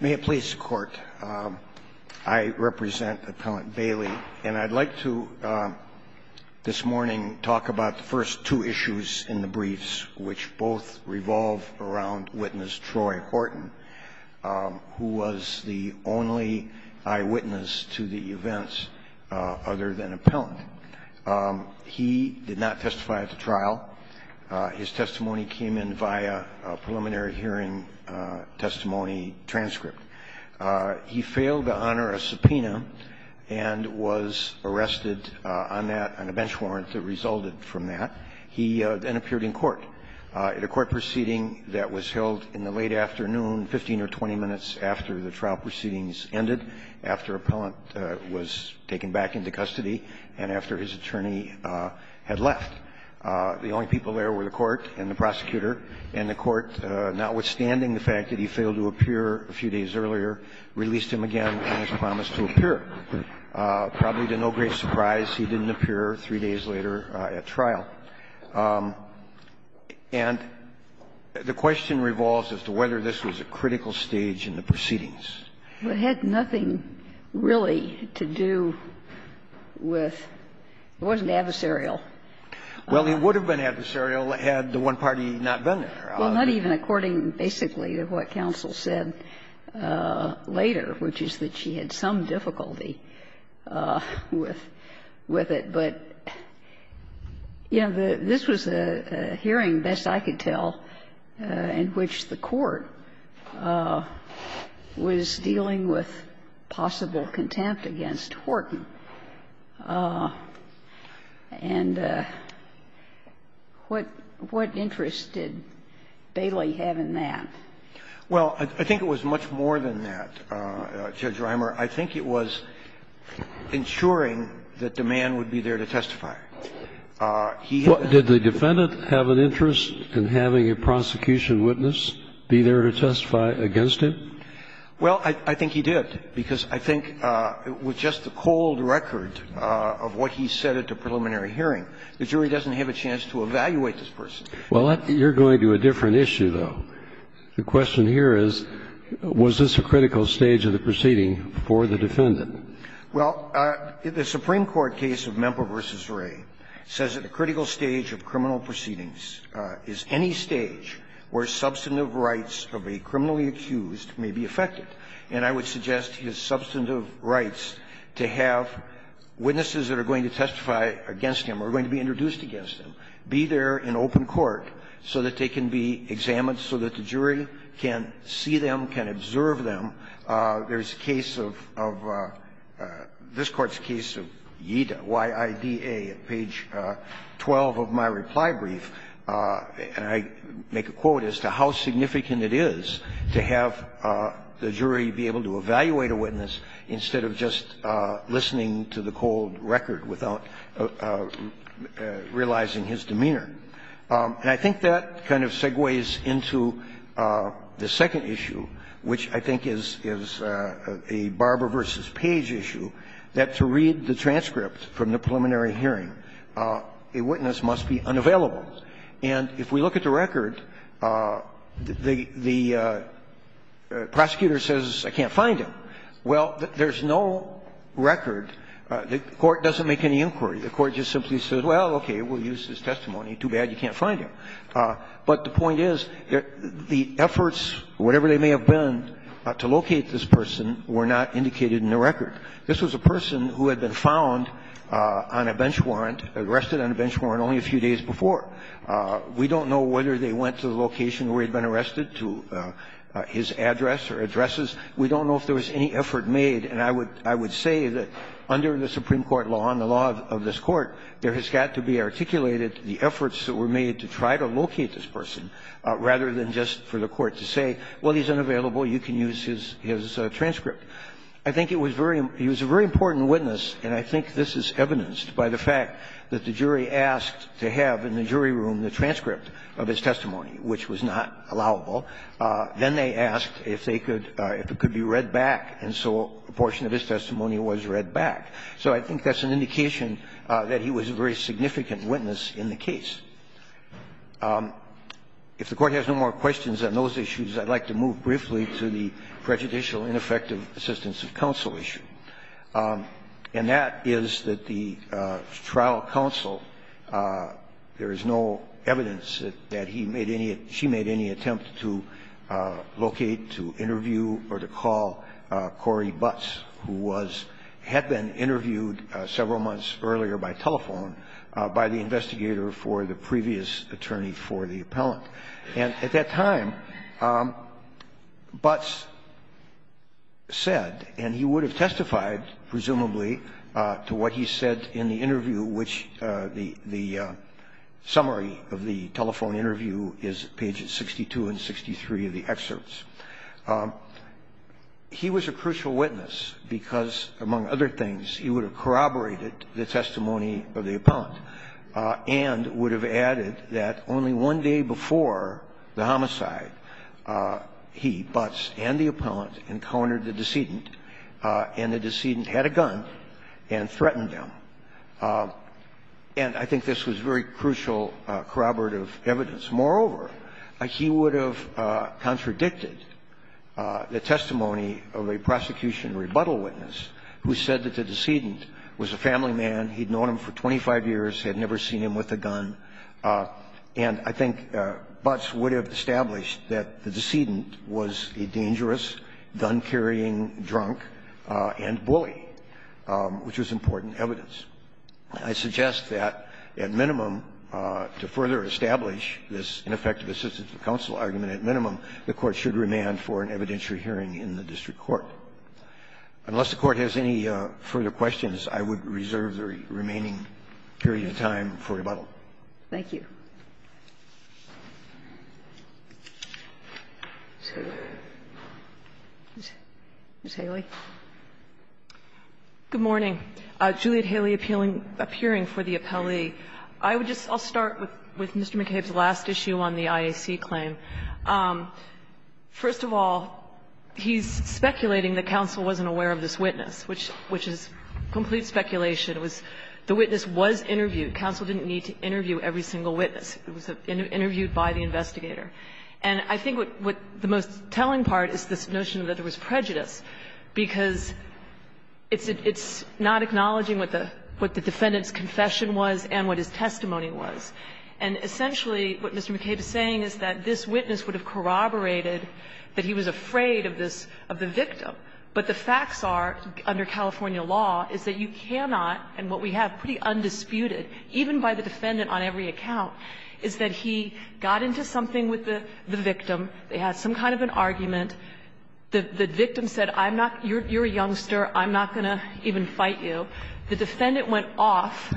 May it please the Court, I represent Appellant Bailey, and I'd like to this morning talk about the first two issues in the briefs, which both revolve around witness Troy Horton, who was the only eyewitness to the events other than appellant. He did not testify at the trial. His testimony came in via a preliminary hearing testimony transcript. He failed to honor a subpoena and was arrested on that, on a bench warrant that resulted from that. He then appeared in court. In a court proceeding that was held in the late afternoon, 15 or 20 minutes after the trial proceedings ended, after appellant was taken back into custody, and after his attorney had left, the only people there were the court and the prosecutor. And the court, notwithstanding the fact that he failed to appear a few days earlier, released him again on his promise to appear. Probably to no great surprise, he didn't appear three days later at trial. And the question revolves as to whether this was a critical stage in the proceedings. It had nothing really to do with, it wasn't adversarial. Well, it would have been adversarial had the one party not been there. Well, not even according, basically, to what counsel said later, which is that she had some difficulty with it, but, you know, this was a hearing, best I could tell, in which the court was dealing with possible contempt against Horton. And what interest did Bailey have in that? Well, I think it was much more than that, Judge Reimer. I think it was ensuring that the man would be there to testify. He had a --- Did the defendant have an interest in having a prosecution witness be there to testify against him? Well, I think he did, because I think with just the cold record of what he said at the preliminary hearing, the jury doesn't have a chance to evaluate this person. Well, you're going to a different issue, though. The question here is, was this a critical stage of the proceeding for the defendant? Well, the Supreme Court case of Mempel v. Wray says that a critical stage of criminal proceedings is any stage where substantive rights of a criminally accused may be affected. And I would suggest his substantive rights to have witnesses that are going to testify against him or going to be introduced against him be there in open court so that they can be examined, so that the jury can see them, can observe them. There's a case of this Court's case of Yida, Y-I-D-A, at page 12 of my reply brief. And I make a quote as to how significant it is to have the jury be able to evaluate a witness instead of just listening to the cold record without realizing his demeanor. And I think that kind of segues into the second issue, which I think is a Barber v. Page issue, that to read the transcript from the preliminary hearing, a witness must be unavailable. And if we look at the record, the prosecutor says, I can't find him. Well, there's no record. The Court doesn't make any inquiry. The Court just simply says, well, okay, we'll use his testimony. Too bad you can't find him. But the point is, the efforts, whatever they may have been, to locate this person were not indicated in the record. This was a person who had been found on a bench warrant, arrested on a bench warrant only a few days before. We don't know whether they went to the location where he had been arrested, to his address or addresses. We don't know if there was any effort made. And I would say that under the Supreme Court law and the law of this Court, there has got to be articulated the efforts that were made to try to locate this person, rather than just for the Court to say, well, he's unavailable, you can use his transcript. I think it was very – he was a very important witness, and I think this is evidenced by the fact that the jury asked to have in the jury room the transcript of his testimony, which was not allowable. Then they asked if they could – if it could be read back, and so a portion of his testimony was read back. So I think that's an indication that he was a very significant witness in the case. If the Court has no more questions on those issues, I'd like to move briefly to the prejudicial ineffective assistance of counsel issue. And that is that the trial counsel, there is no evidence that he made any – she made any attempt to locate, to interview, or to call Corey Butts, who was – had been interviewed several months earlier by telephone by the investigator for the previous attorney for the appellant. And at that time, Butts said, and he would have testified, presumably, to what he said in the interview, which the summary of the telephone interview is page 62 and 63 of the excerpts. He was a crucial witness because, among other things, he would have corroborated the testimony of the appellant and would have added that only one day before the homicide, he, Butts, and the appellant encountered the decedent, and the decedent had a gun, and threatened him. And I think this was very crucial corroborative evidence. Moreover, he would have contradicted the testimony of a prosecution rebuttal witness who said that the decedent was a family man, he'd known him for 25 years, had never seen him with a gun, and I think Butts would have established that the which was important evidence. I suggest that, at minimum, to further establish this ineffective assistance to counsel argument, at minimum, the Court should remand for an evidentiary hearing in the district court. Unless the Court has any further questions, I would reserve the remaining period of time for rebuttal. Thank you. Ms. Haley. Good morning. Juliet Haley, appealing to the appellee. I would just start with Mr. McCabe's last issue on the IAC claim. First of all, he's speculating that counsel wasn't aware of this witness, which is complete speculation. It was the witness was interviewed. Counsel didn't need to interview every single witness. It was interviewed by the investigator. And I think what the most telling part is this notion that there was prejudice, because it's not acknowledging what the defendant's confession was and what his testimony was. And essentially, what Mr. McCabe is saying is that this witness would have corroborated that he was afraid of this, of the victim. But the facts are, under California law, is that you cannot, and what we have pretty undisputed, even by the defendant on every account, is that he got into something with the victim, they had some kind of an argument, the victim said, I'm not, you're a youngster, I'm not going to even fight you. The defendant went off,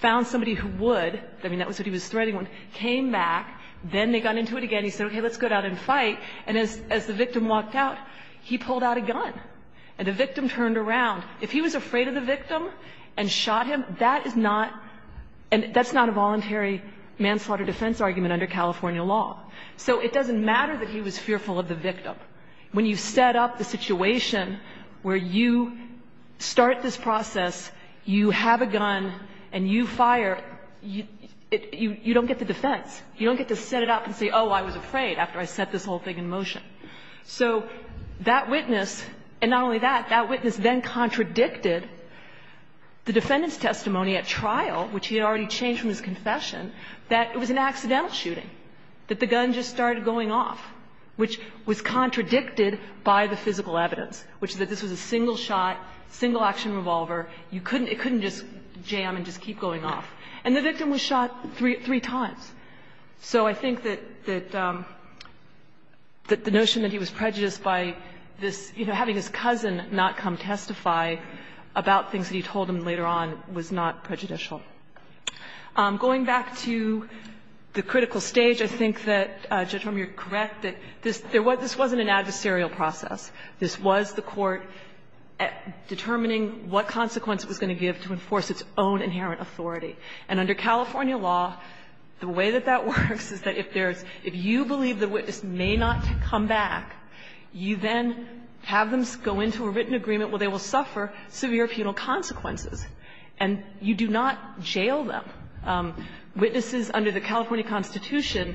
found somebody who would, I mean, that was what he was threatening with, came back, then they got into it again, he said, okay, let's go down and fight, and as the victim walked out, he pulled out a gun, and the victim turned around. If he was afraid of the victim and shot him, that is not, and that's not a voluntary manslaughter defense argument under California law. So it doesn't matter that he was fearful of the victim. When you set up the situation where you start this process, you have a gun, and you fire, you don't get the defense. You don't get to set it up and say, oh, I was afraid, after I set this whole thing in motion. So that witness, and not only that, that witness then contradicted the defendant's testimony at trial, which he had already changed from his confession, that it was an accidental shooting, that the gun just started going off, which was contradicted by the physical evidence, which is that this was a single shot, single action revolver, you couldn't, it couldn't just jam and just keep going off. And the victim was shot three times. So I think that the notion that he was prejudiced by this, you know, having his cousin not come testify about things that he told him later on was not prejudicial. Going back to the critical stage, I think that, Judge Rummer, you're correct that this wasn't an adversarial process. This was the court determining what consequence it was going to give to enforce its own inherent authority. And under California law, the way that that works is that if there's, if you believe the witness may not come back, you then have them go into a written agreement where they will suffer severe penal consequences. And you do not jail them. Witnesses under the California Constitution,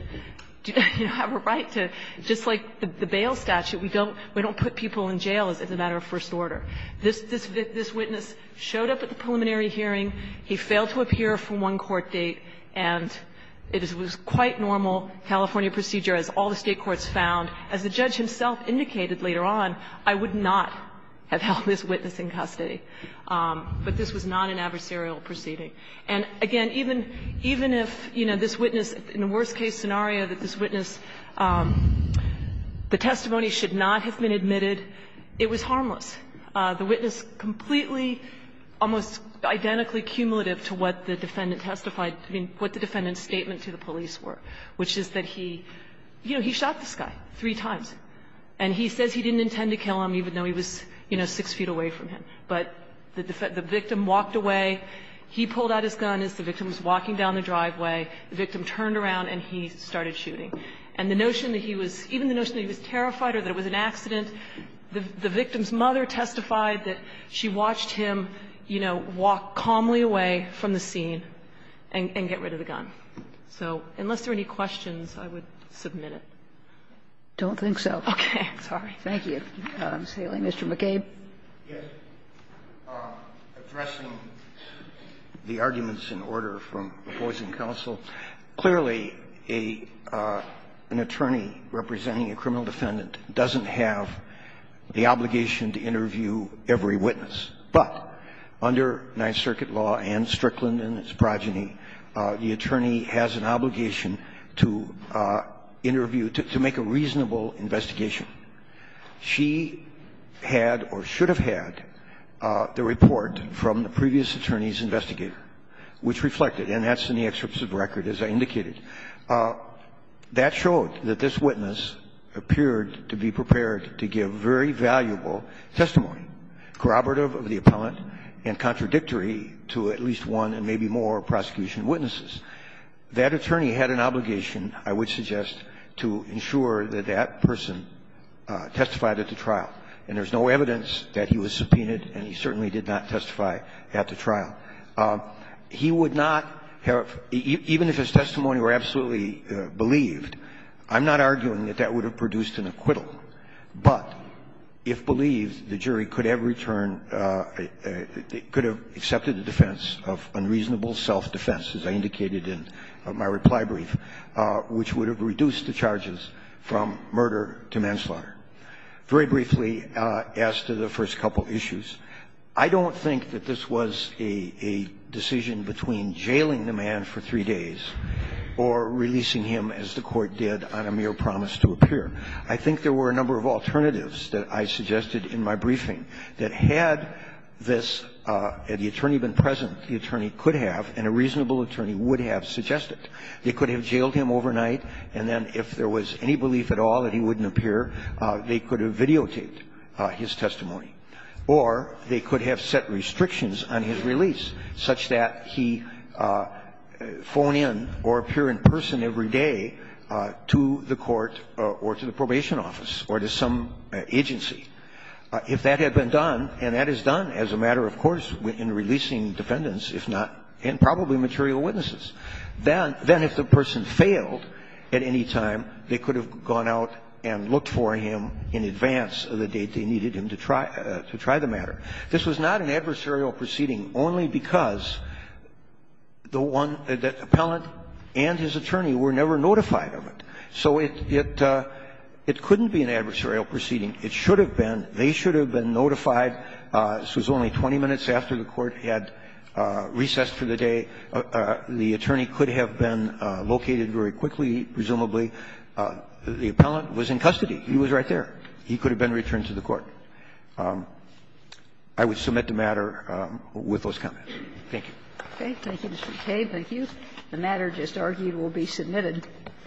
you know, have a right to, just like the bail statute, we don't put people in jail as a matter of first order. This witness showed up at the preliminary hearing. He failed to appear for one court date. And it was quite normal California procedure, as all the State courts found. As the judge himself indicated later on, I would not have held this witness in custody. But this was not an adversarial proceeding. And again, even if, you know, this witness, in the worst-case scenario that this witness, the testimony should not have been admitted, it was harmless. The witness completely, almost identically cumulative to what the defendant testified, I mean, what the defendant's statement to the police were, which is that he, you know, he shot this guy three times. And he says he didn't intend to kill him, even though he was, you know, six feet away from him. But the victim walked away. He pulled out his gun as the victim was walking down the driveway. The victim turned around and he started shooting. And the notion that he was, even the notion that he was terrified or that it was an act of terror testified that she watched him, you know, walk calmly away from the scene and get rid of the gun. So unless there are any questions, I would submit it. Sotomayor, I don't think so. Okay. Sorry. Thank you. Mr. McCabe. McCabe, addressing the arguments in order from the Poison Counsel, clearly a an attorney representing a criminal defendant doesn't have the obligation to interview every witness. But under Ninth Circuit law and Strickland and its progeny, the attorney has an obligation to interview, to make a reasonable investigation. She had or should have had the report from the previous attorney's investigator, which reflected, and that's in the excerpt of the record, as I indicated, that showed that this witness appeared to be prepared to give very valuable testimony, corroborative of the appellant and contradictory to at least one and maybe more prosecution witnesses. That attorney had an obligation, I would suggest, to ensure that that person testified at the trial. And there's no evidence that he was subpoenaed and he certainly did not testify at the trial. He would not have, even if his testimony were absolutely believed, I'm not arguing that that would have produced an acquittal. But if believed, the jury could have returned, could have accepted the defense of unreasonable self-defense, as I indicated in my reply brief, which would have reduced the charges from murder to manslaughter. Very briefly, as to the first couple issues, I don't think that this was a case where there was a decision between jailing the man for three days or releasing him, as the Court did, on a mere promise to appear. I think there were a number of alternatives that I suggested in my briefing that had this attorney been present, the attorney could have and a reasonable attorney would have suggested. They could have jailed him overnight, and then if there was any belief at all that he wouldn't appear, they could have videotaped his testimony. Or they could have set restrictions on his release, such that he phone in or appear in person every day to the court or to the probation office or to some agency. If that had been done, and that is done as a matter of course in releasing defendants, if not, and probably material witnesses, then if the person failed at any time, they could have gone out and looked for him in advance of the date they needed him to try the matter. This was not an adversarial proceeding only because the one, the appellant and his attorney were never notified of it. So it couldn't be an adversarial proceeding. It should have been. They should have been notified. This was only 20 minutes after the court had recessed for the day. The attorney could have been located very quickly, presumably. The appellant was in custody. He was right there. He could have been returned to the court. I would submit the matter with those comments. Thank you. Thank you, Mr. McCain. Thank you. The matter just argued will be submitted.